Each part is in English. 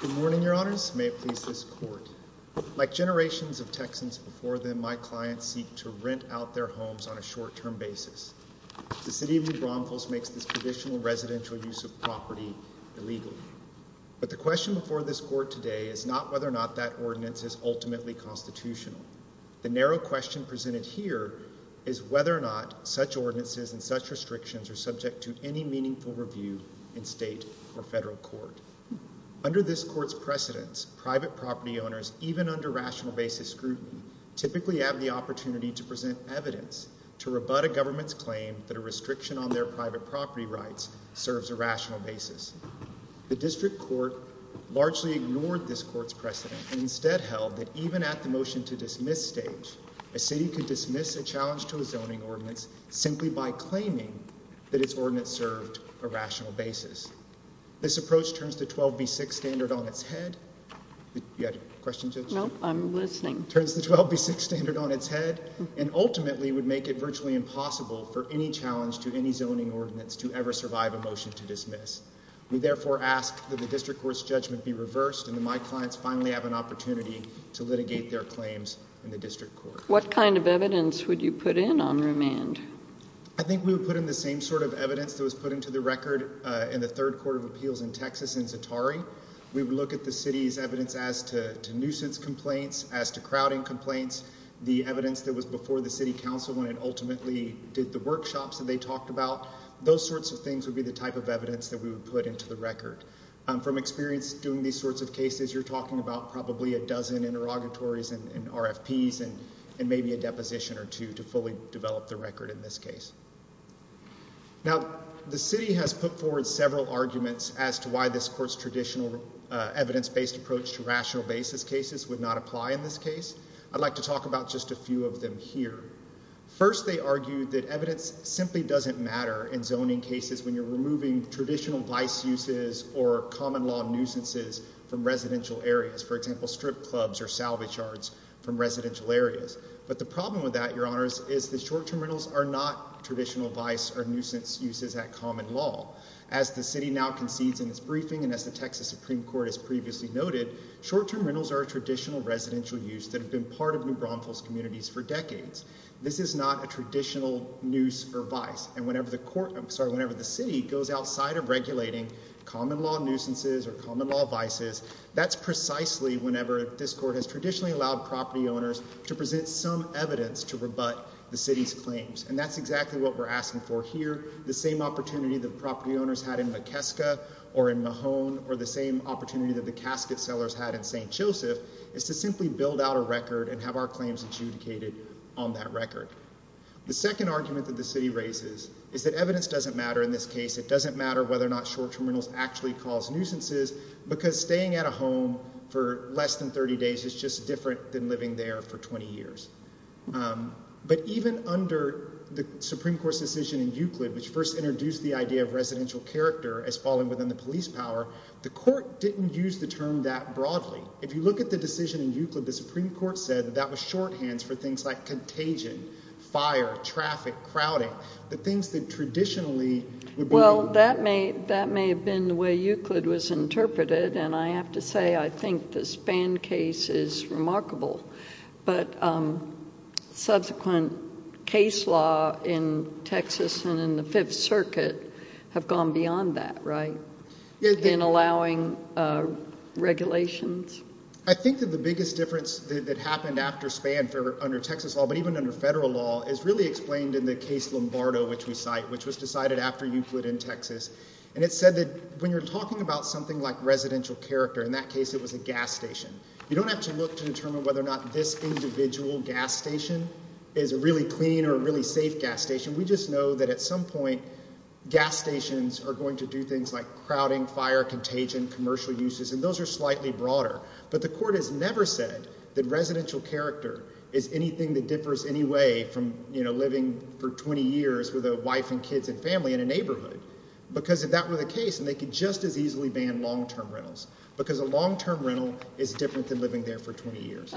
Good morning, Your Honors. May it please this Court. Like generations of Texans before them, my clients seek to rent out their homes on a short-term basis. The City of New Braunfels makes this traditional residential use of property illegal. But the question before this Court today is not whether or not that ordinance is ultimately constitutional. The narrow question presented here is whether or not such ordinances and such restrictions are subject to any meaningful review in state or federal court. Under this Court's precedents, private property owners, even under rational basis scrutiny, typically have the opportunity to present evidence to rebut a government's claim that a restriction on their private property. We have largely ignored this Court's precedent and instead held that even at the motion-to-dismiss stage, a city could dismiss a challenge to a zoning ordinance simply by claiming that its ordinance served a rational basis. This approach turns the 12b6 standard on its head and ultimately would make it virtually impossible for any challenge to any zoning ordinance to ever survive a motion to dismiss. We therefore ask that the District Court's precedent be reversed and that my clients finally have an opportunity to litigate their claims in the District Court. What kind of evidence would you put in on remand? I think we would put in the same sort of evidence that was put into the record in the Third Court of Appeals in Texas in Zatari. We would look at the City's evidence as to nuisance complaints, as to crowding complaints, the evidence that was before the City Council when it ultimately did the workshops that they talked about. Those sorts of things would be the type of evidence that we would put into the record. From experience doing these sorts of cases, you're talking about probably a dozen interrogatories and RFPs and maybe a deposition or two to fully develop the record in this case. Now, the City has put forward several arguments as to why this Court's traditional evidence-based approach to rational basis cases would not apply in this case. I'd like to talk about just a few of them here. First, they argue that evidence simply doesn't matter in zoning cases when you're removing traditional vice uses or common law nuisances from residential areas. For example, strip clubs or salvage yards from residential areas. But the problem with that, Your Honors, is that short-term rentals are not traditional vice or nuisance uses at common law. As the City now concedes in its briefing and as the Texas Supreme Court has previously noted, short-term rentals are a traditional residential use that have been part of New Braunfels communities for decades. This is not a traditional nuisance or vice. And whenever the City goes outside of regulating common law nuisances or common law vices, that's precisely whenever this Court has traditionally allowed property owners to present some evidence to rebut the City's claims. And that's exactly what we're asking for here. The same opportunity that property owners had in McKeska or in Mahone or the same opportunity that the casket sellers had in St. Joseph is to simply build out a record and have our claims adjudicated on that record. The second argument that the City raises is that evidence doesn't matter in this case. It doesn't matter whether or not short-term rentals actually cause nuisances because staying at a home for less than 30 days is just different than living there for 20 years. But even under the Supreme Court's decision in Euclid, which first introduced the idea of residential character as falling within the police power, the Court didn't use the term that broadly. If you look at the decision in Euclid, the Supreme Court said that that was shorthands for things like contagion, fire, traffic, crowding, the things that traditionally would be— Well, that may have been the way Euclid was interpreted, and I have to say I think the Spann case is remarkable. But subsequent case law in Texas and in the Fifth Circuit have gone beyond that, right, in allowing regulations? I think that the biggest difference that happened after Spann under Texas law, but even under federal law, is really explained in the case Lombardo, which we cite, which was decided after Euclid in Texas. And it said that when you're talking about something like residential character, in that case it was a gas station. You don't have to look to determine whether or not this individual gas station is a really clean or a really safe gas station. We just know that at some point gas stations are going to do things like crowding, fire, contagion, commercial uses, and those are slightly broader. But the court has never said that residential character is anything that differs in any way from, you know, living for 20 years with a wife and kids and family in a neighborhood, because if that were the case, then they could just as easily ban long-term rentals, because a long-term rental is different than living there for 20 years.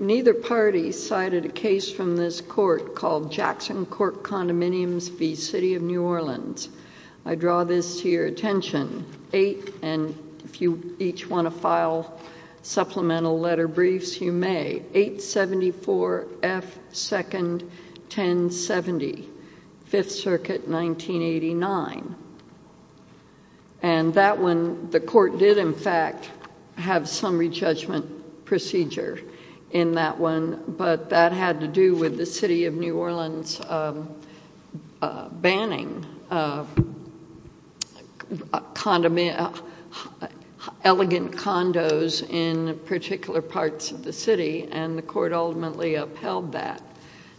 Neither party cited a case from this court called Jackson Court Condominiums v. City of New Orleans. I draw this to your attention, 8, and if you each want to file supplemental letter briefs, you may, 874 F. 2nd 1070, 5th Circuit 1989. And that one, the court did in fact have some re-judgment procedure in that one, but that had to do with the City of New Orleans banning elegant condos in particular parts of the city, and the court ultimately upheld that.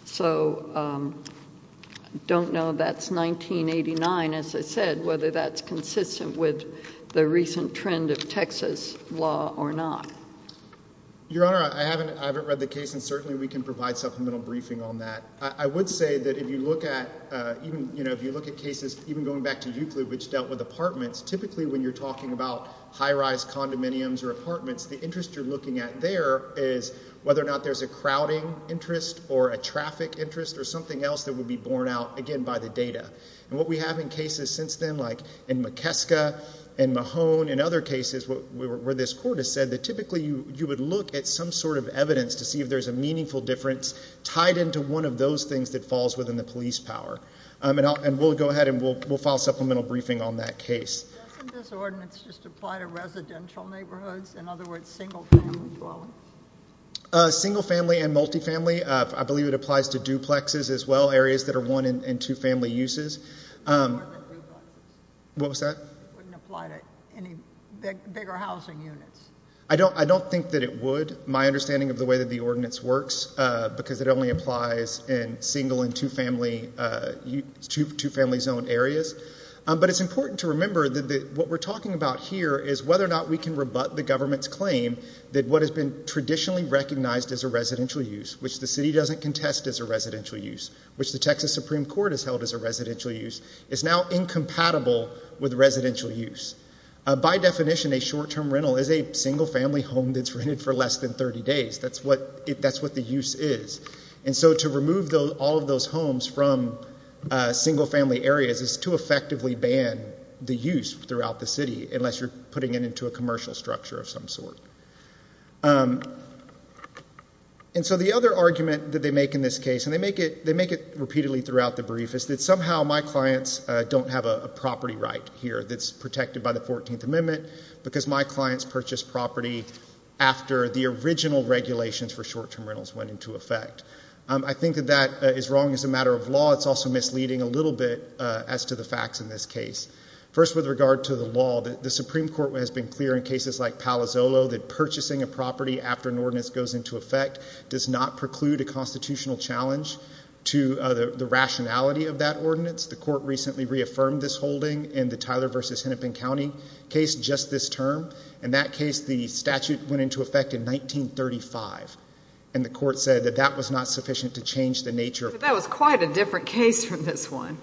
So I don't know that's 1989, as I said, whether that's consistent with the recent trend of Texas law or not. Your Honor, I haven't read the case, and certainly we can provide supplemental briefing on that I would say that if you look at cases, even going back to Euclid, which dealt with apartments, typically when you're talking about high-rise condominiums or apartments, the interest you're looking at there is whether or not there's a crowding interest or a traffic interest or something else that would be borne out, again, by the data. And what we have in cases since then, like in McKeska and Mahone and other cases where this court has said that typically you would look at some sort of evidence to see if there's a meaningful difference tied into one of those things that falls within the police power. And we'll go ahead and we'll file supplemental briefing on that case. Doesn't this ordinance just apply to residential neighborhoods? In other words, single-family dwellings? Single-family and multifamily. I believe it applies to duplexes as well, areas that are one- and two-family uses. It wouldn't apply to any bigger housing units. I don't think that it would. My understanding of the way that the ordinance works, because it only applies in single- and two-family zone areas. But it's important to remember that what we're talking about here is whether or not we can rebut the government's claim that what has been traditionally recognized as a residential use, which the city doesn't contest as a residential use, which the Texas Supreme Court has held as a residential use, is now incompatible with residential use. By definition, a short-term rental is a single-family home that's rented for less than 30 days. That's what the use is. And so to remove all of those homes from single-family areas is to effectively ban the use throughout the city, unless you're putting it into a commercial structure of some sort. And so the other argument that they make in this case, and they make it repeatedly throughout the brief, is that somehow my clients don't have a property right here that's protected by the 14th Amendment because my clients purchased property after the original regulations for short-term rentals went into effect. I think that that is wrong as a matter of law. It's also misleading a little bit as to the facts in this case. First with regard to the law, the Supreme Court has been clear in cases like Palo Zolo that purchasing a property after an ordinance goes into effect does not preclude a constitutional challenge to the rationality of that ordinance. The court recently reaffirmed this holding in the Tyler v. Hennepin County case just this term. In that case, the statute went into effect in 1935. And the court said that that was not sufficient to change the nature of property. But that was quite a different case from this one.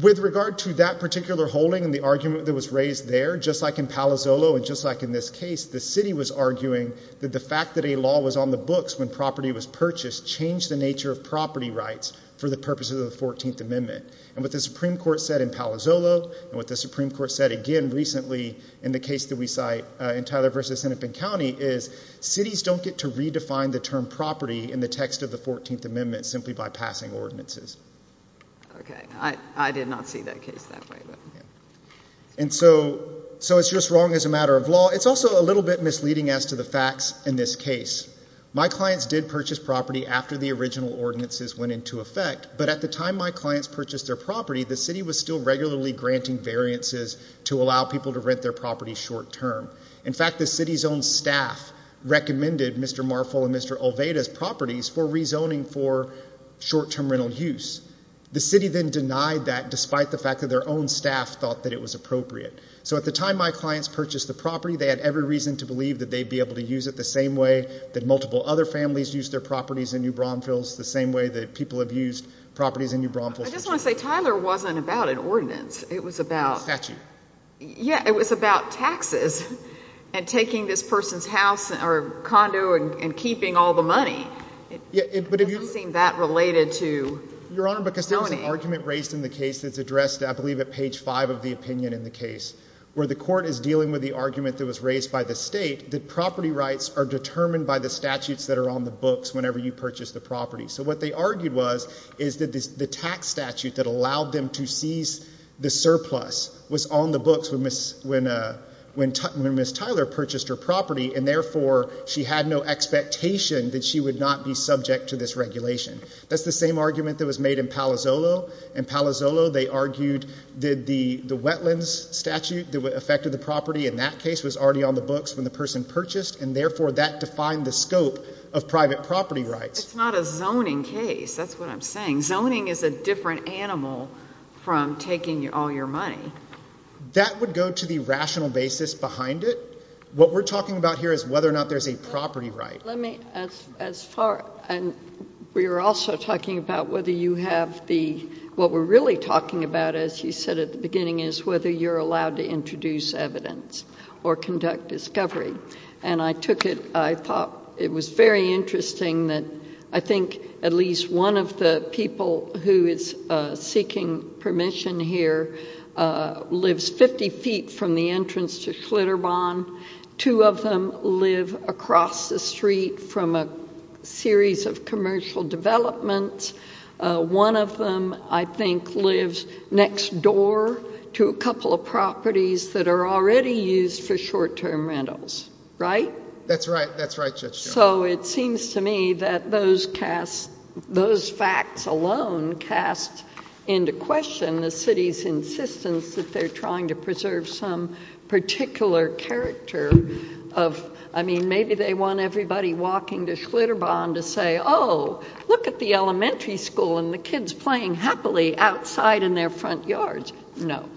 With regard to that particular holding and the argument that was raised there, just like in Palo Zolo and just like in this case, the city was arguing that the fact that a law was on the books when property was purchased changed the nature of property rights for the purposes of the 14th Amendment. And what the Supreme Court said in Palo Zolo and what the Supreme Court said again recently in the case that we cite in Tyler v. Hennepin County is cities don't get to redefine the term property in the text of the 14th Amendment simply by passing ordinances. Okay. I did not see that case that way. And so it's just wrong as a matter of law. It's also a little bit misleading as to the facts in this case. My clients did purchase property after the original ordinances went into effect. But at the time my clients purchased their property, the city was still regularly granting variances to allow people to rent their property short-term. In fact, the city's own staff recommended Mr. Marful and Mr. Olveda's properties for rezoning for short-term rental use. The city then denied that despite the fact that their own staff thought that it was appropriate. So at the time my clients purchased the property, they had every reason to believe that they'd be able to use it the same way that multiple other families use their properties in New Braunfels, the same way that people have used properties in New Braunfels. I just want to say Tyler wasn't about an ordinance. It was about... Statute. Yeah. It was about taxes and taking this person's house or condo and keeping all the money. It doesn't seem that related to zoning. Your Honor, because there was an argument raised in the case that's addressed I believe at page five of the opinion in the case where the court is dealing with the argument that was raised by the state that property rights are determined by the statutes that are on the books whenever you purchase the property. So what they argued was is that the tax statute that allowed them to seize the surplus was on the books when Ms. Tyler purchased her property, and therefore she had no expectation that she would not be subject to this regulation. That's the same argument that was made in Palazzolo. In Palazzolo, they argued that the wetlands statute that affected the property in that case was already on the books when the person purchased, and therefore that defined the scope of private property rights. It's not a zoning case. That's what I'm saying. Zoning is a different animal from taking all your money. That would go to the rational basis behind it. What we're talking about here is whether or not there's a property right. Let me... As far... We were also talking about whether you have the... What we're really talking about, as you said at the beginning, is whether you're allowed to introduce evidence or conduct discovery. And I took it... I thought it was very interesting that I think at least one of the people who is seeking permission here lives 50 feet from the entrance to Clitter Bond. Two of them live across the street from a series of commercial developments. One of them, I think, lives next door to a couple of properties that are already used for short-term rentals. Right? That's right. That's right, Judge Jones. So it seems to me that those facts alone cast into question the city's insistence that they're trying to preserve some particular character of... I mean, maybe they want everybody walking to Clitter Bond to say, oh, look at the elementary school and the kids playing happily outside in their front yards. No.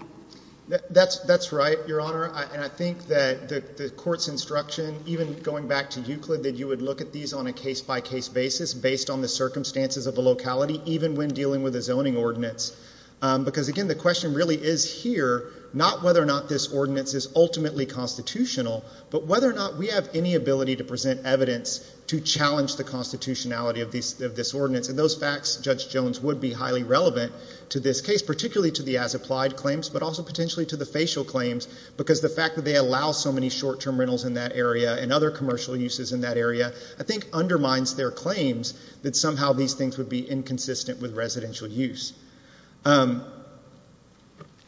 That's right, Your Honor. And I think that the court's instruction, even going back to Euclid, that you would look at these on a case-by-case basis based on the circumstances of the locality, even when dealing with a zoning ordinance. Because again, the question really is here not whether or not this ordinance is ultimately constitutional, but whether or not we have any ability to present evidence to challenge the constitutionality of this ordinance. And those facts, Judge Jones, would be highly relevant to this case, particularly to the as-applied claims, but also potentially to the facial claims, because the fact that they allow so many short-term rentals in that area and other commercial uses in that area, I think undermines their claims that somehow these things would be inconsistent with residential use.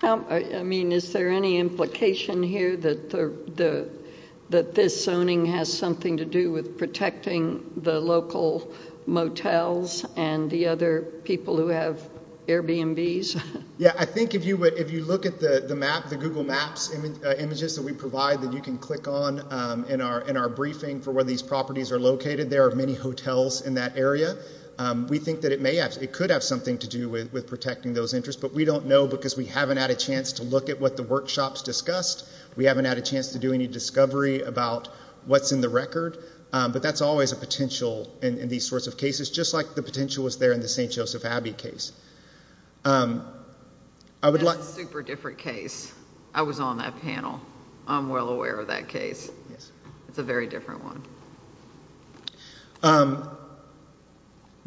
I mean, is there any implication here that this zoning has something to do with protecting the local motels and the other people who have Airbnbs? Yeah, I think if you look at the Google Maps images that we provide that you can click on in our briefing for where these properties are located, there are many hotels in that But we don't know because we haven't had a chance to look at what the workshops discussed. We haven't had a chance to do any discovery about what's in the record, but that's always a potential in these sorts of cases, just like the potential was there in the St. Joseph Abbey case. I would like... That's a super different case. I was on that panel. I'm well aware of that case. It's a very different one.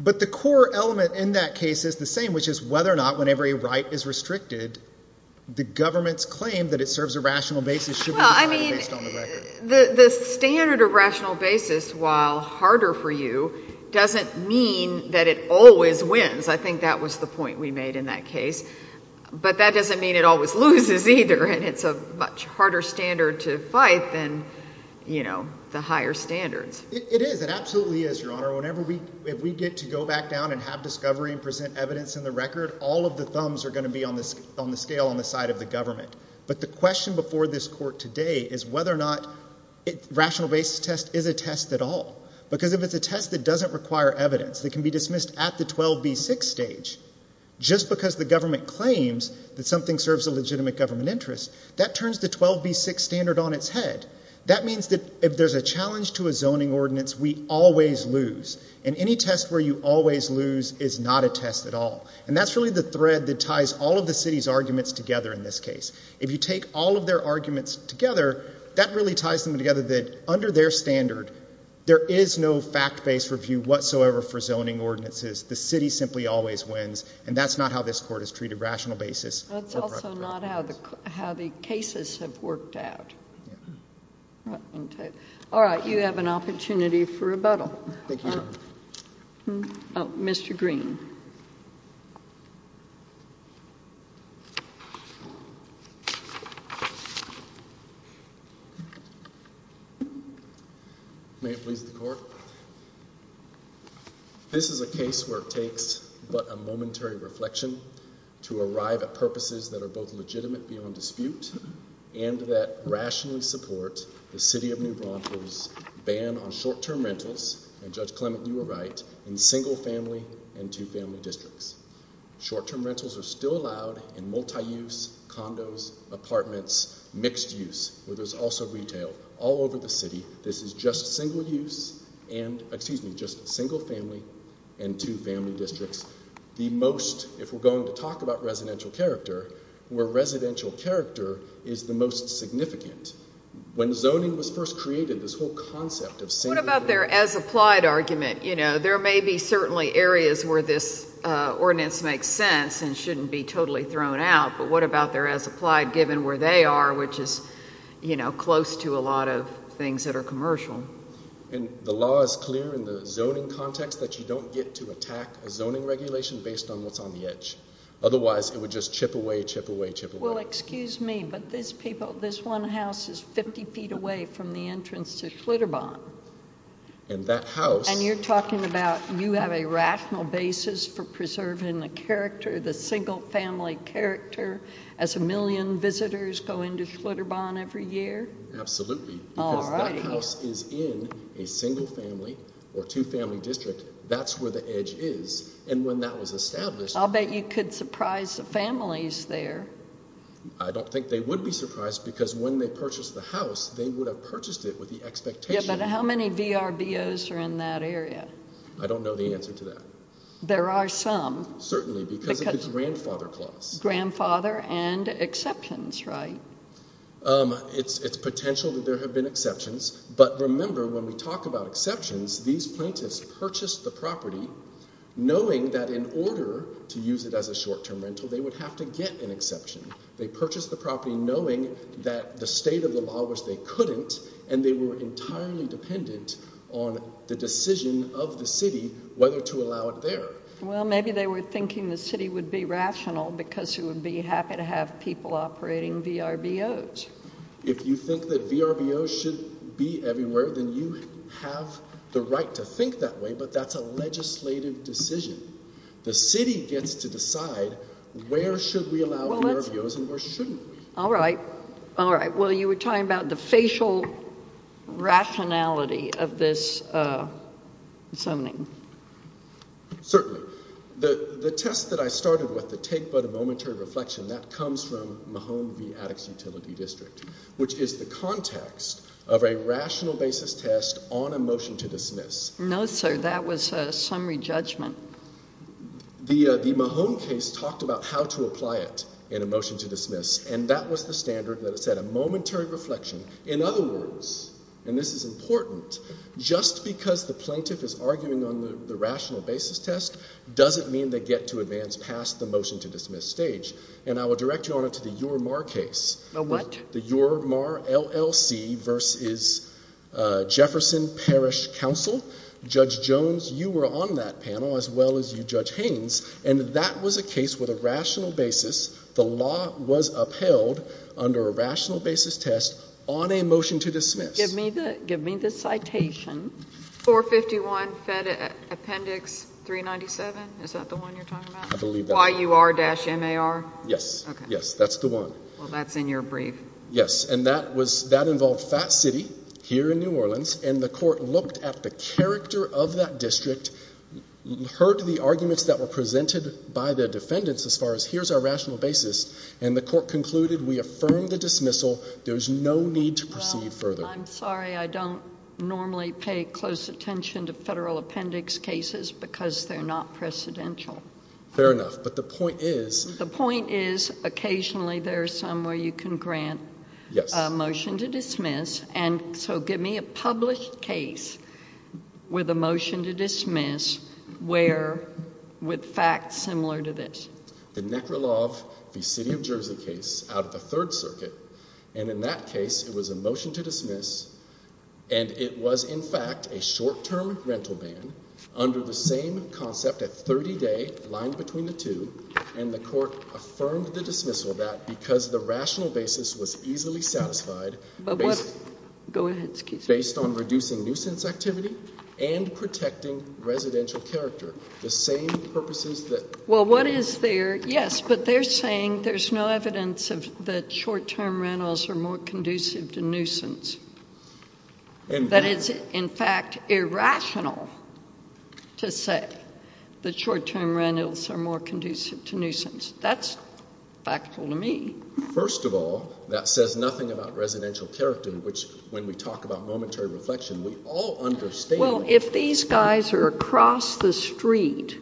But the core element in that case is the same, which is whether or not whenever a right is restricted, the government's claim that it serves a rational basis should be decided based on the record. Well, I mean, the standard of rational basis, while harder for you, doesn't mean that it always wins. I think that was the point we made in that case. But that doesn't mean it always loses either, and it's a much harder standard to fight than the higher standards. It is. It absolutely is, Your Honor. Whenever we... if we get to go back down and have discovery and present evidence in the record, all of the thumbs are going to be on the scale on the side of the government. But the question before this court today is whether or not rational basis test is a test at all. Because if it's a test that doesn't require evidence, that can be dismissed at the 12b6 stage, just because the government claims that something serves a legitimate government interest. That turns the 12b6 standard on its head. That means that if there's a challenge to a zoning ordinance, we always lose. And any test where you always lose is not a test at all. And that's really the thread that ties all of the city's arguments together in this case. If you take all of their arguments together, that really ties them together that under their standard, there is no fact-based review whatsoever for zoning ordinances. The city simply always wins, and that's not how this court has treated rational basis or correct basis. That's also not how the cases have worked out. All right, you have an opportunity for rebuttal. Thank you. Mr. Green. May it please the court? This is a case where it takes but a momentary reflection to arrive at purposes that are both legitimate beyond dispute and that rationally support the city of New Broncos' ban on short-term rentals, and Judge Clement, you were right, in single-family and two-family districts. Short-term rentals are still allowed in multi-use, condos, apartments, mixed-use, where there's also retail, all over the city. This is just single-use and, excuse me, just single-family and two-family districts. The most, if we're going to talk about residential character, where residential character is the most significant. When zoning was first created, this whole concept of single-family... What about their as-applied argument? There may be certainly areas where this ordinance makes sense and shouldn't be totally thrown out, but what about their as-applied, given where they are, which is close to a lot of things that are commercial? The law is clear in the zoning context that you don't get to attack a zoning regulation based on what's on the edge. Otherwise, it would just chip away, chip away, chip away. Well, excuse me, but this one house is 50 feet away from the entrance to Glitter Bond. And that house... And you're talking about you have a rational basis for preserving the character, the single-family character, as a million visitors go into Glitter Bond every year? Absolutely. All right. Because that house is in a single-family or two-family district. That's where the edge is. And when that was established... I'll bet you could surprise the families there. I don't think they would be surprised, because when they purchased the house, they would have purchased it with the expectation... Yeah, but how many VRBOs are in that area? I don't know the answer to that. There are some. Certainly, because of the grandfather clause. Grandfather and exceptions, right? It's potential that there have been exceptions. But remember, when we talk about exceptions, these plaintiffs purchased the property knowing that in order to use it as a short-term rental, they would have to get an exception. They purchased the property knowing that the state of the law was they couldn't, and they were entirely dependent on the decision of the city whether to allow it there. Well, maybe they were thinking the city would be rational because it would be happy to have people operating VRBOs. If you think that VRBOs should be everywhere, then you have the right to think that way, but that's a legislative decision. The city gets to decide where should we allow VRBOs and where shouldn't we. All right. All right. Well, you were talking about the facial rationality of this zoning. Certainly. The test that I started with, the take but a momentary reflection, that comes from Mahone v. Addicts Utility District, which is the context of a rational basis test on a motion to dismiss. No, sir. That was a summary judgment. The Mahone case talked about how to apply it in a motion to dismiss, and that was the standard that said a momentary reflection. In other words, and this is important, just because the plaintiff is arguing on the rational basis test doesn't mean they get to advance past the motion to dismiss stage. And I will direct you on it to the UR-MAHR case. The what? The UR-MAHR LLC v. Jefferson Parish Council. Judge Jones, you were on that panel as well as you, Judge Haynes, and that was a case with a rational basis. The law was upheld under a rational basis test on a motion to dismiss. Give me the citation. 451 Appendix 397. Is that the one you're talking about? I believe that. YUR-MAHR? Yes. Okay. Yes, that's the one. Well, that's in your brief. Yes. And that was, that involved Phat City here in New Orleans, and the court looked at the character of that district, heard the arguments that were presented by the defendants as far as here's our rational basis, and the court concluded, we affirm the dismissal. I'm sorry. I'm sorry. I'm sorry. I'm sorry. I'm sorry. I'm sorry. I'm sorry. I'm sorry. I'm not going to take close attention to federal appendix cases because they're not precedential. Fair enough, but the point is. The point is occasionally there are some where you can grant a motion to dismiss, and so give me a published case with a motion to dismiss where, with facts similar to this. The Nekralov v. City of Jersey case out of the 3rd Circuit, and in that case it was a fact, a short-term rental ban under the same concept at 30-day, line between the two, and the court affirmed the dismissal of that because the rational basis was easily satisfied based on reducing nuisance activity and protecting residential character. The same purposes that. Well what is there, yes, but they're saying there's no evidence that short-term rentals are more conducive to nuisance. That is, in fact, irrational to say that short-term rentals are more conducive to nuisance. That's factual to me. First of all, that says nothing about residential character, which when we talk about momentary reflection, we all understand. Well if these guys are across the street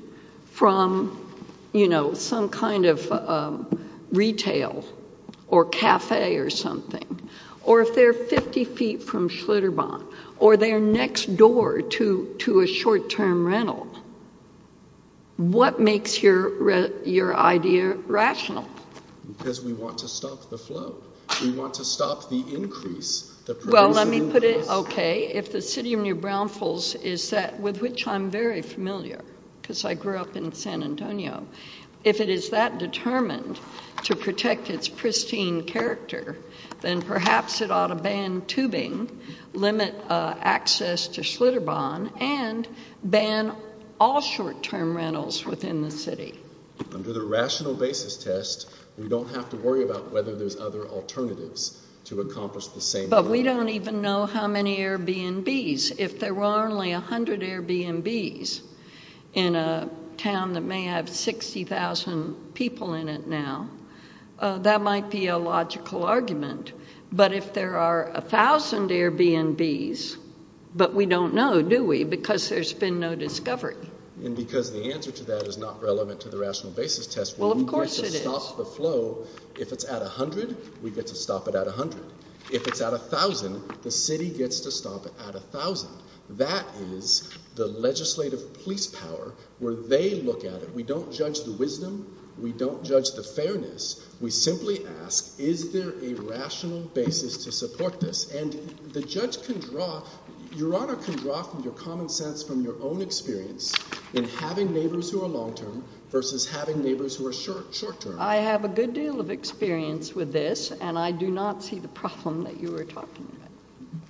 from, you know, some kind of retail or cafe or something, or if they're 50 feet from Schlitterbahn or they're next door to a short-term rental, what makes your idea rational? Because we want to stop the flow. We want to stop the increase, the pervasive increase. Well let me put it, okay, if the City of New Brownfields is that, with which I'm very familiar, because I grew up in San Antonio, if it is that determined to protect its pristine character, then perhaps it ought to ban tubing, limit access to Schlitterbahn, and ban all short-term rentals within the city. Under the rational basis test, we don't have to worry about whether there's other alternatives to accomplish the same goal. But we don't even know how many Airbnbs. If there were only 100 Airbnbs in a town that may have 60,000 people in it now, that might be a logical argument. But if there are 1,000 Airbnbs, but we don't know, do we? Because there's been no discovery. And because the answer to that is not relevant to the rational basis test, where we get to stop the flow, if it's at 100, we get to stop it at 100. If it's at 1,000, the city gets to stop it at 1,000. That is the legislative police power, where they look at it. We don't judge the wisdom. We don't judge the fairness. We simply ask, is there a rational basis to support this? And the judge can draw, Your Honor can draw from your common sense from your own experience in having neighbors who are long-term versus having neighbors who are short-term. I have a good deal of experience with this. And I do not see the problem that you were talking about.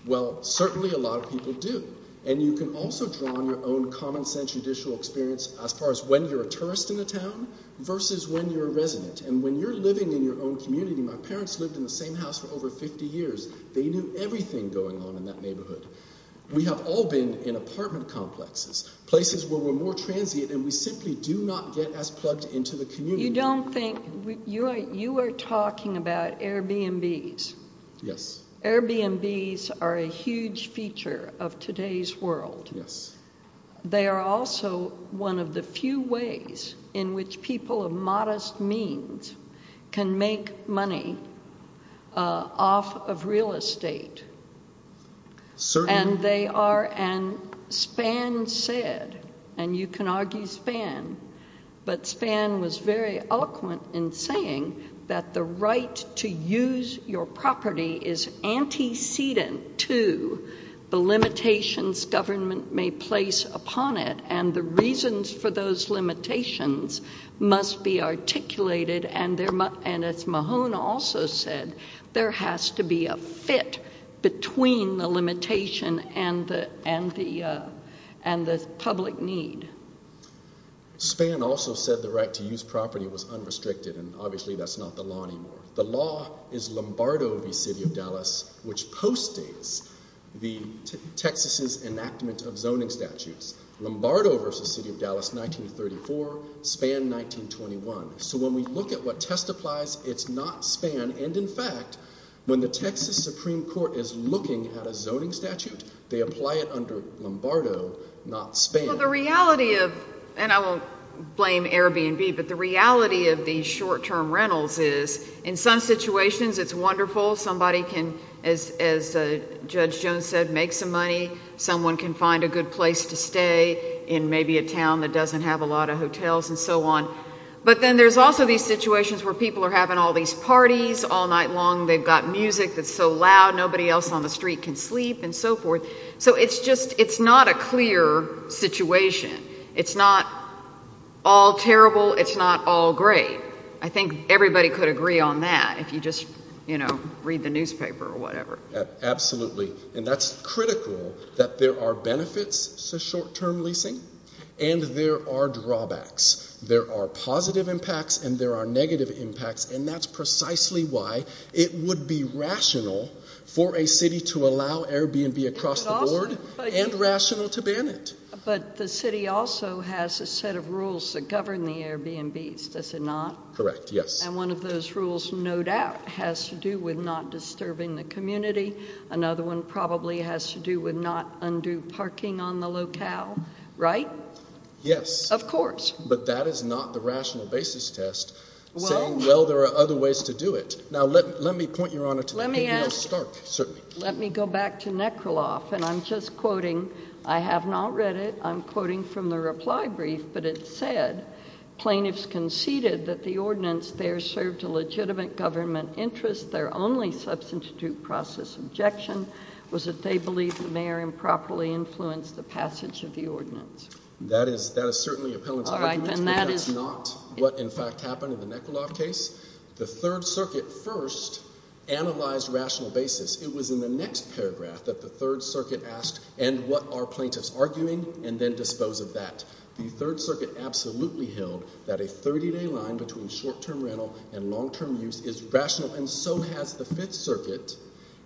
Well, certainly a lot of people do. And you can also draw on your own common sense judicial experience as far as when you're a tourist in the town versus when you're a resident. And when you're living in your own community, my parents lived in the same house for over 50 years. They knew everything going on in that neighborhood. We have all been in apartment complexes, places where we're more transient, and we simply do not get as plugged into the community. You don't think, you are talking about Airbnbs. Yes. Airbnbs are a huge feature of today's world. Yes. They are also one of the few ways in which people of modest means can make money off of real estate. Certainly. And they are, and Spann said, and you can argue Spann, but Spann was very eloquent in saying that the right to use your property is antecedent to the limitations government may place upon it. And the reasons for those limitations must be articulated. And as Mahone also said, there has to be a fit between the limitation and the public need. Spann also said the right to use property was unrestricted. And obviously that's not the law anymore. The law is Lombardo v. City of Dallas, which postdates the Texas' enactment of zoning statutes. Lombardo v. City of Dallas, 1934, Spann, 1921. So when we look at what testifies, it's not Spann. And in fact, when the Texas Supreme Court is looking at a zoning statute, they apply it under Lombardo, not Spann. Well, the reality of, and I won't blame Airbnb, but the reality of these short-term rentals is, in some situations, it's wonderful. Somebody can, as Judge Jones said, make some money. Someone can find a good place to stay in maybe a town that doesn't have a lot of hotels and so on. But then there's also these situations where people are having all these parties all night long. They've got music that's so loud. Nobody else on the street can sleep and so forth. So it's just, it's not a clear situation. It's not all terrible. It's not all great. I think everybody could agree on that if you just, you know, read the newspaper or whatever. Absolutely. And that's critical that there are benefits to short-term leasing and there are drawbacks. There are positive impacts and there are negative impacts. And that's precisely why it would be rational for a city to allow Airbnb across the board and rational to ban it. But the city also has a set of rules that govern the Airbnbs, does it not? Correct, yes. And one of those rules, no doubt, has to do with not disturbing the community. Another one probably has to do with not undue parking on the locale, right? Yes. Of course. But that is not the rational basis test saying, well, there are other ways to do it. Now, let me point, Your Honor, to the KVL-Stark, certainly. Let me go back to Nekraloff. And I'm just quoting. I have not read it. I'm quoting from the reply brief. But it said, plaintiffs conceded that the ordinance there served a legitimate government interest. Their only substitute process objection was that they believed that the mayor improperly influenced the passage of the ordinance. That is certainly a pellant argument, but that's not what, in fact, happened in the Nekraloff case. The Third Circuit first analyzed rational basis. It was in the next paragraph that the Third Circuit asked, and what are plaintiffs arguing, and then dispose of that. The Third Circuit absolutely held that a 30-day line between short-term rental and long-term use is rational, and so has the Fifth Circuit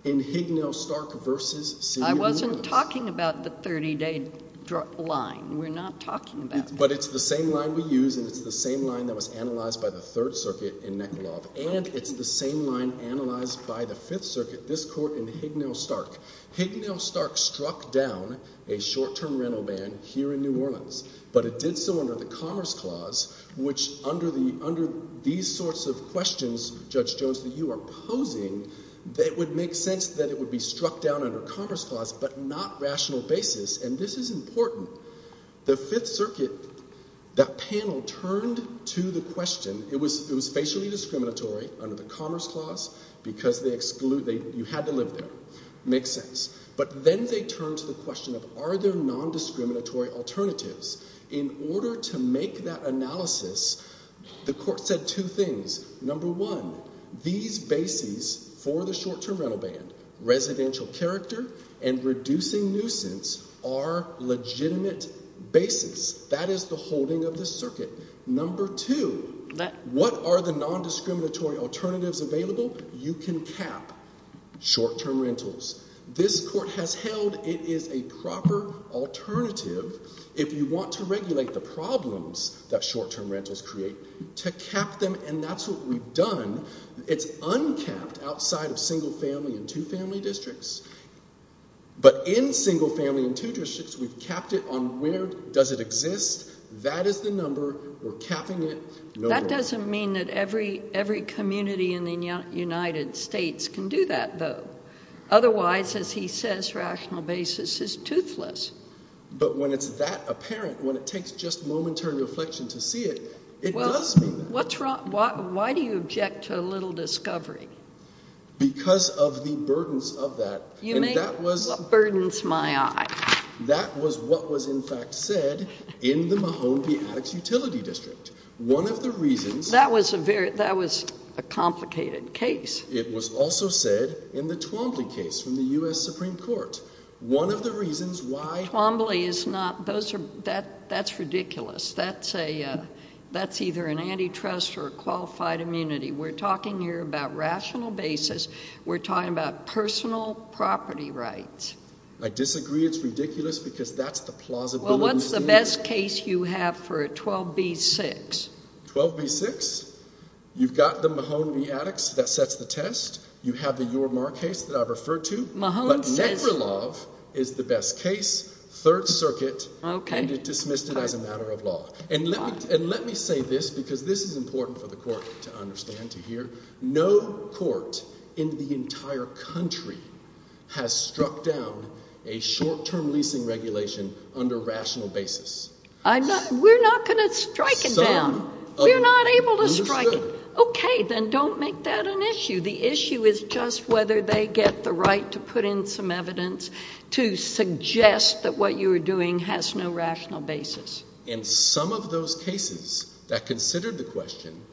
in Hignell-Stark v. Senior Rules. I wasn't talking about the 30-day line. We're not talking about that. But it's the same line we use, and it's the same line that was analyzed by the Third Circuit in Nekraloff. And it's the same line analyzed by the Fifth Circuit, this court in Hignell-Stark. Hignell-Stark struck down a short-term rental ban here in New Orleans. But it did so under the Commerce Clause, which under these sorts of questions, Judge Jones, that you are posing, that it would make sense that it would be struck down under Commerce Clause, but not rational basis. And this is important. The Fifth Circuit, that panel turned to the question. It was facially discriminatory under the Commerce Clause because you had to live there. Makes sense. But then they turned to the question of, are there non-discriminatory alternatives? In order to make that analysis, the court said two things. Number one, these bases for the short-term rental ban, residential character and reducing nuisance, are legitimate bases. That is the holding of the circuit. Number two, what are the non-discriminatory alternatives available? You can cap short-term rentals. This court has held it is a proper alternative. If you want to regulate the problems that short-term rentals create, to cap them, and that's what we've done, it's uncapped outside of single-family and two-family districts. But in single-family and two-family districts, we've capped it on where does it exist. That is the number. We're capping it. No more. That doesn't mean that every community in the United States can do that, though. Otherwise, as he says, rational basis is toothless. But when it's that apparent, when it takes just momentary reflection to see it, it does mean that. Well, why do you object to a little discovery? Because of the burdens of that. You mean, what burdens my eye? That was what was in fact said in the Mahone P. Addix Utility District. One of the reasons. That was a complicated case. It was also said in the Twombly case from the U.S. Supreme Court. One of the reasons why. Twombly is not, those are, that's ridiculous. That's a, that's either an antitrust or a qualified immunity. We're talking here about rational basis. We're talking about personal property rights. I disagree. It's ridiculous because that's the plausibility. Well, what's the best case you have for a 12B-6? 12B-6? You've got the Mahone v. Addix that sets the test. You have the Your Mark case that I've referred to. But Nekralov is the best case, Third Circuit, and it dismissed it as a matter of law. And let me say this, because this is important for the court to understand, to hear. No court in the entire country has struck down a short-term leasing regulation under rational basis. I'm not, we're not going to strike it down. We're not able to strike it. Okay, then don't make that an issue. The issue is just whether they get the right to put in some evidence to suggest that what you are doing has no rational basis. And some of those cases that considered the question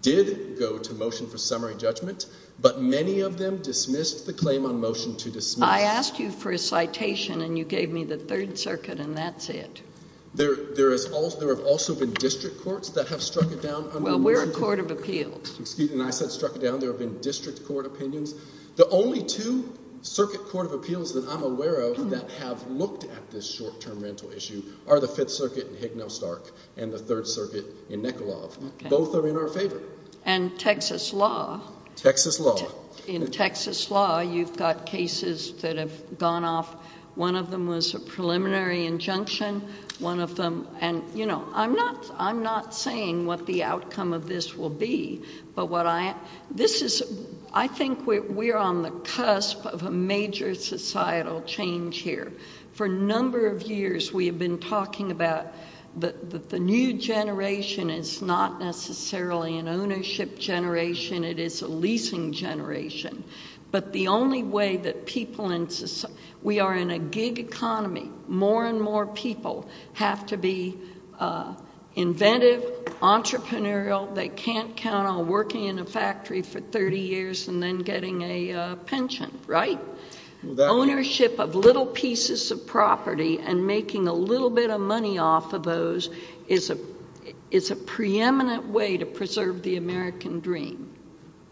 did go to motion for summary judgment, but many of them dismissed the claim on motion to dismiss. I asked you for a citation and you gave me the Third Circuit and that's it. There, there is also, there have also been district courts that have struck it down. Well, we're a court of appeals. Excuse me, and I said struck it down. There have been district court opinions. The only two circuit court of appeals that I'm aware of that have looked at this short-term rental issue are the Fifth Circuit in Hignell-Stark and the Third Circuit in Nekralov. Both are in our favor. And Texas law. Texas law. In Texas law, you've got cases that have gone off. One of them was a preliminary injunction. One of them, and you know, I'm not, I'm not saying what the outcome of this will be. But what I, this is, I think we're on the cusp of a major societal change here. For a number of years, we have been talking about the new generation is not necessarily an ownership generation. It is a leasing generation. But the only way that people in, we are in a gig economy. More and more people have to be inventive, entrepreneurial. They can't count on working in a factory for 30 years and then getting a pension, right? Ownership of little pieces of property and making a little bit of money off of those is a, is a preeminent way to preserve the American dream.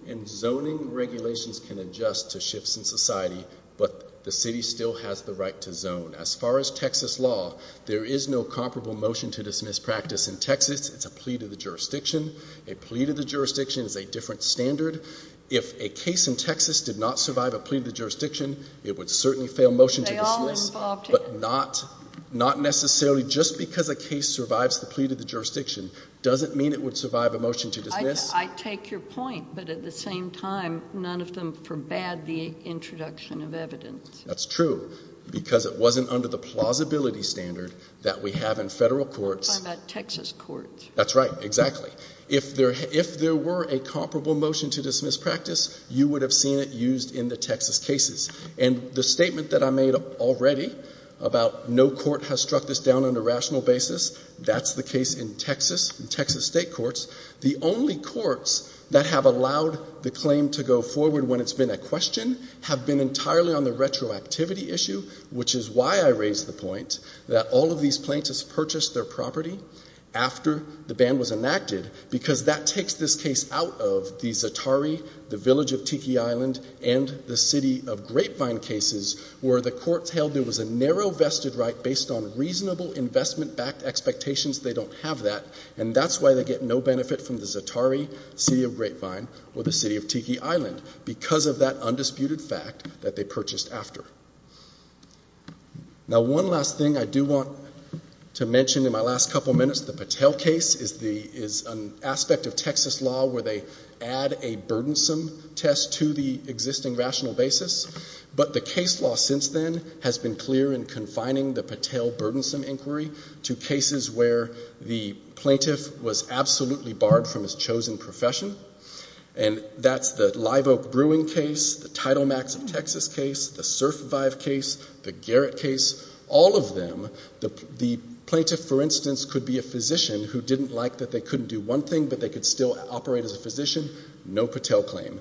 And zoning regulations can adjust to shifts in society, but the city still has the right to zone. As far as Texas law, there is no comparable motion to dismiss practice in Texas. It's a plea to the jurisdiction. A plea to the jurisdiction is a different standard. If a case in Texas did not survive a plea to the jurisdiction, it would certainly fail motion to dismiss. But not, not necessarily just because a case survives the plea to the jurisdiction doesn't mean it would survive a motion to dismiss. I take your point. But at the same time, none of them forbade the introduction of evidence. That's true because it wasn't under the plausibility standard that we have in federal courts. I'm talking about Texas courts. That's right, exactly. If there, if there were a comparable motion to dismiss practice, you would have seen it used in the Texas cases. And the statement that I made already about no court has struck this down on a rational basis, that's the case in Texas, Texas state courts. The only courts that have allowed the claim to go forward when it's been a question have been entirely on the retroactivity issue, which is why I raised the point that all of these plaintiffs purchased their property after the ban was enacted, because that takes this case out of the Za'atari, the Village of Tiki Island, and the City of Grapevine cases, where the courts held there was a narrow vested right based on reasonable investment-backed expectations. They don't have that. And that's why they get no benefit from the Za'atari, City of Grapevine, or the City of Tiki Island, because of that undisputed fact that they purchased after. Now, one last thing I do want to mention in my last couple of minutes, the Patel case is the, is an aspect of Texas law where they add a burdensome test to the existing rational basis. But the case law since then has been clear in confining the Patel burdensome inquiry to cases where the plaintiff was absolutely barred from his chosen profession. And that's the Live Oak Brewing case, the Title Max of Texas case, the Surf Vive case, the Garrett case, all of them. The plaintiff, for instance, could be a physician who didn't like that they couldn't do one thing, but they could still operate as a physician, no Patel claim.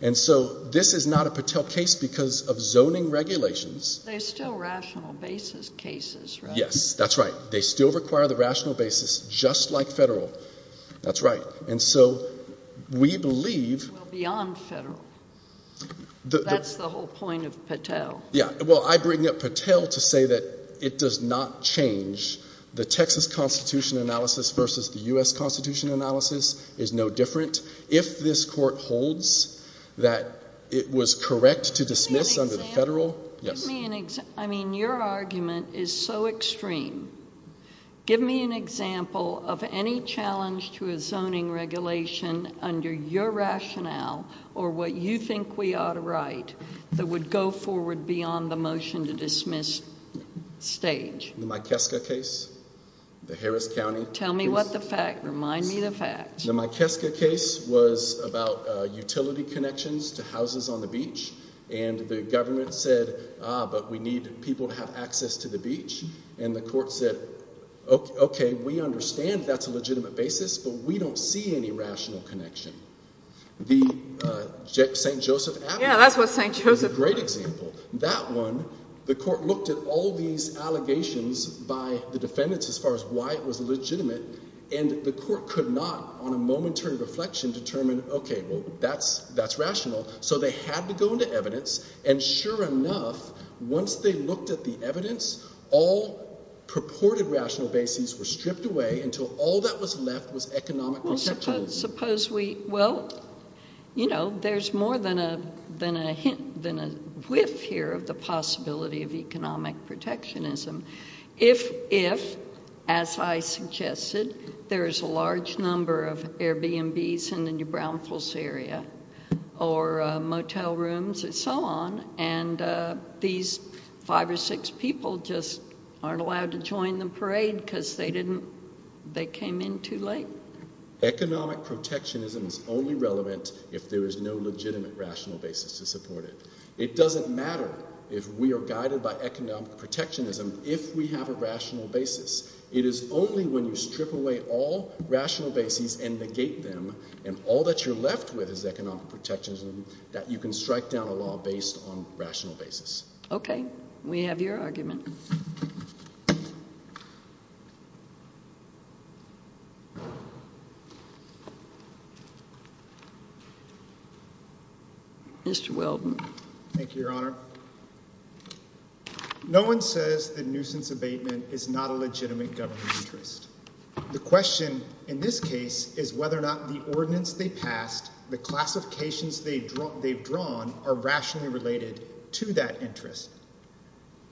And so this is not a Patel case because of zoning regulations. They're still rational basis cases, right? Yes, that's right. They still require the rational basis, just like federal. That's right. And so we believe. Well, beyond federal. That's the whole point of Patel. Yeah, well, I bring up Patel to say that it does not change. The Texas Constitution analysis versus the U.S. Constitution analysis is no different. If this court holds that it was correct to dismiss under the federal. Give me an example. I mean, your argument is so extreme. Give me an example of any challenge to a zoning regulation under your rationale or what you think we ought to write that would go forward beyond the motion to dismiss stage. The Mikeska case, the Harris County. Tell me what the fact. Remind me the fact. The Mikeska case was about utility connections to houses on the beach. And the government said, but we need people to have access to the beach. And the court said, OK, we understand that's a legitimate basis, but we don't see any rational connection. The St. Joseph. Yeah, that's what St. Joseph is a great example. That one, the court looked at all these allegations by the defendants as far as why it was legitimate. And the court could not on a momentary reflection determine, OK, well, that's that's rational. So they had to go into evidence. And sure enough, once they looked at the evidence, all purported rational basis were stripped away until all that was left was economic. Suppose we well, you know, there's more than a than a than a whiff here of the possibility of economic protectionism. If, if, as I suggested, there is a large number of Airbnbs in the New Brownfields area or motel rooms and so on. And these five or six people just aren't allowed to join the parade because they didn't they came in too late. Economic protectionism is only relevant if there is no legitimate rational basis to support it. It doesn't matter if we are guided by economic protectionism, if we have a rational basis. It is only when you strip away all rational basis and negate them and all that you're left with is economic protectionism that you can strike down a law based on rational basis. OK, we have your argument. Mr. Weldon, thank you, Your Honor. No one says the nuisance abatement is not a legitimate government interest. The question in this case is whether or not the ordinance they passed, the classifications they've drawn, they've drawn are rationally related to that interest.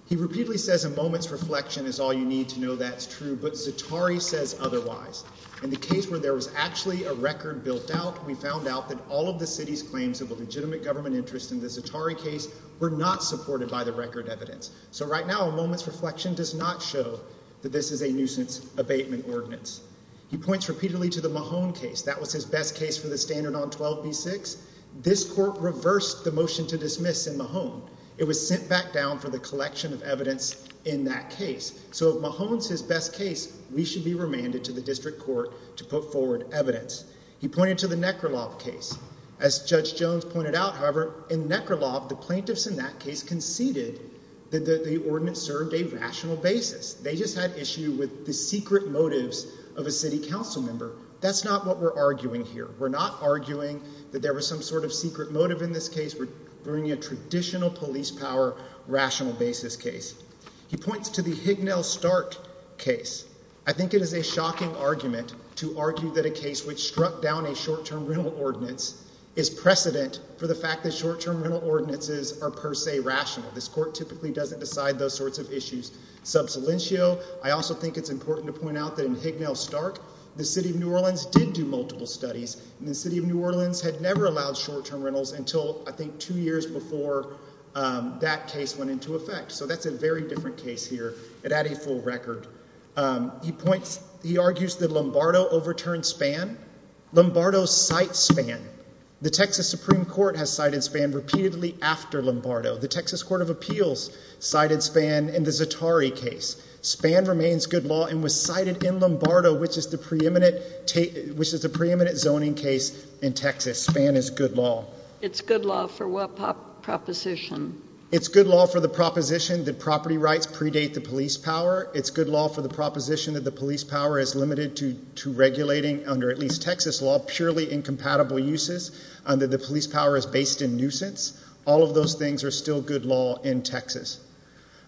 He repeatedly says a moment's reflection is all you need to know that's true, but Zatari says otherwise. In the case where there was actually a record built out, we found out that all of the city's claims of a legitimate government interest in the Zatari case were not supported by the record evidence. So right now, a moment's reflection does not show that this is a nuisance abatement ordinance. He points repeatedly to the Mahone case. That was his best case for the standard on 12B6. This court reversed the motion to dismiss in Mahone. It was sent back down for the collection of evidence in that case. So if Mahone's his best case, we should be remanded to the district court to put forward evidence. He pointed to the Neckerlof case. As Judge Jones pointed out, however, in Neckerlof, the plaintiffs in that case conceded that the ordinance served a rational basis. They just had issue with the secret motives of a city council member. That's not what we're arguing here. We're not arguing that there was some sort of secret motive in this case. We're bringing a traditional police power, rational basis case. He points to the Hignell-Stark case. I think it is a shocking argument to argue that a case which struck down a short-term rental ordinance is precedent for the fact that short-term rental ordinances are per se rational. This court typically doesn't decide those sorts of issues. Sub salientio, I also think it's important to point out that in Hignell-Stark, the city of New Orleans did do multiple studies. The city of New Orleans had never allowed short-term rentals until, I think, two years before that case went into effect. So that's a very different case here. It had a full record. He points, he argues that Lombardo overturned Spann. Lombardo cites Spann. The Texas Supreme Court has cited Spann repeatedly after Lombardo. The Texas Court of Appeals cited Spann in the Zatari case. Spann remains good law and was cited in Lombardo, which is the preeminent zoning case in Texas. Spann is good law. It's good law for what proposition? It's good law for the proposition that property rights predate the police power. It's good law for the proposition that the police power is limited to regulating, under at least Texas law, purely incompatible uses, that the police power is based in nuisance. All of those things are still good law in Texas.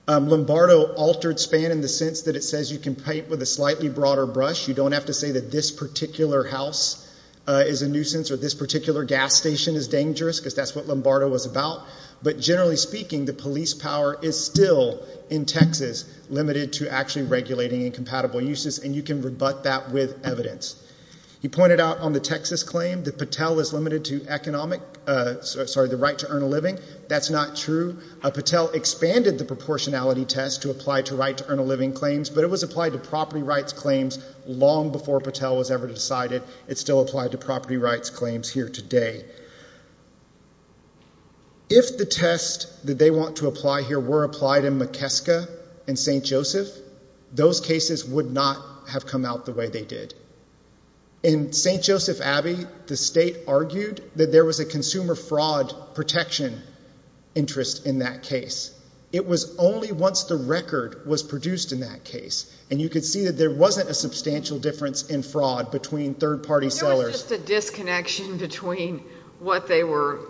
Lombardo altered Spann in the sense that it says you can paint with a slightly broader brush. You don't have to say that this particular house is a nuisance or this particular gas station is dangerous because that's what Lombardo was about. But generally speaking, the police power is still in Texas limited to actually regulating incompatible uses. And you can rebut that with evidence. He pointed out on the Texas claim that Patel is limited to economic, sorry, the right to earn a living. That's not true. Patel expanded the proportionality test to apply to right to earn a living claims, but it was applied to property rights claims long before Patel was ever decided. It's still applied to property rights claims here today. If the test that they want to apply here were applied in McKeska and St. Joseph, those cases would not have come out the way they did. In St. Joseph Abbey, the state argued that there was a consumer fraud protection interest in that case. It was only once the record was produced in that case. And you could see that there wasn't a substantial difference in fraud between third-party sellers. There was just a disconnection between what they were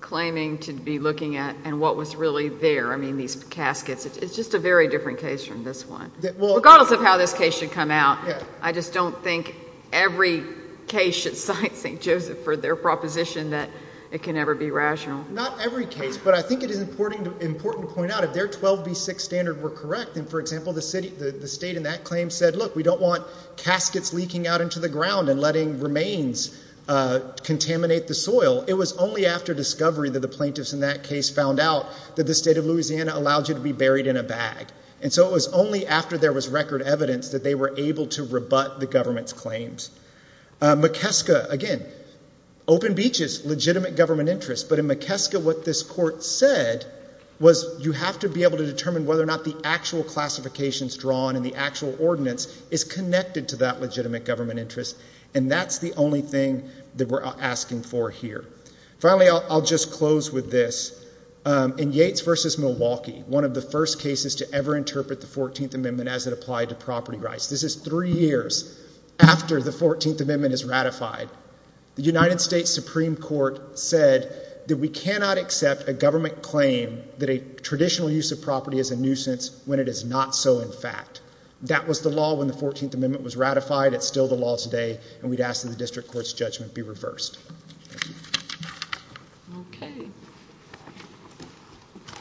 claiming to be looking at and what was really there. I mean, these caskets. It's just a very different case from this one, regardless of how this case should come out. I just don't think every case should cite St. Joseph for their proposition that it can never be rational. Not every case, but I think it is important to point out if their 12B6 standard were correct, and for example, the state in that claim said, look, we don't want caskets leaking out into the ground and letting remains contaminate the soil. It was only after discovery that the plaintiffs in that case found out that the state of Louisiana allowed you to be buried in a bag. And so it was only after there was record evidence that they were able to rebut the government's claims. McKeska, again, open beaches, legitimate government interest. But in McKeska, what this court said was you have to be able to determine whether or not the actual classifications drawn and the actual ordinance is connected to that legitimate government interest. And that's the only thing that we're asking for here. Finally, I'll just close with this. In Yates v. Milwaukee, one of the first cases to ever interpret the 14th Amendment as it applied to property rights. This is three years after the 14th Amendment is ratified. The United States Supreme Court said that we cannot accept a government claim that a traditional use of property is a nuisance when it is not so in fact. That was the law when the 14th Amendment was ratified. It's still the law today, and we'd ask that the district court's judgment be reversed. Okay.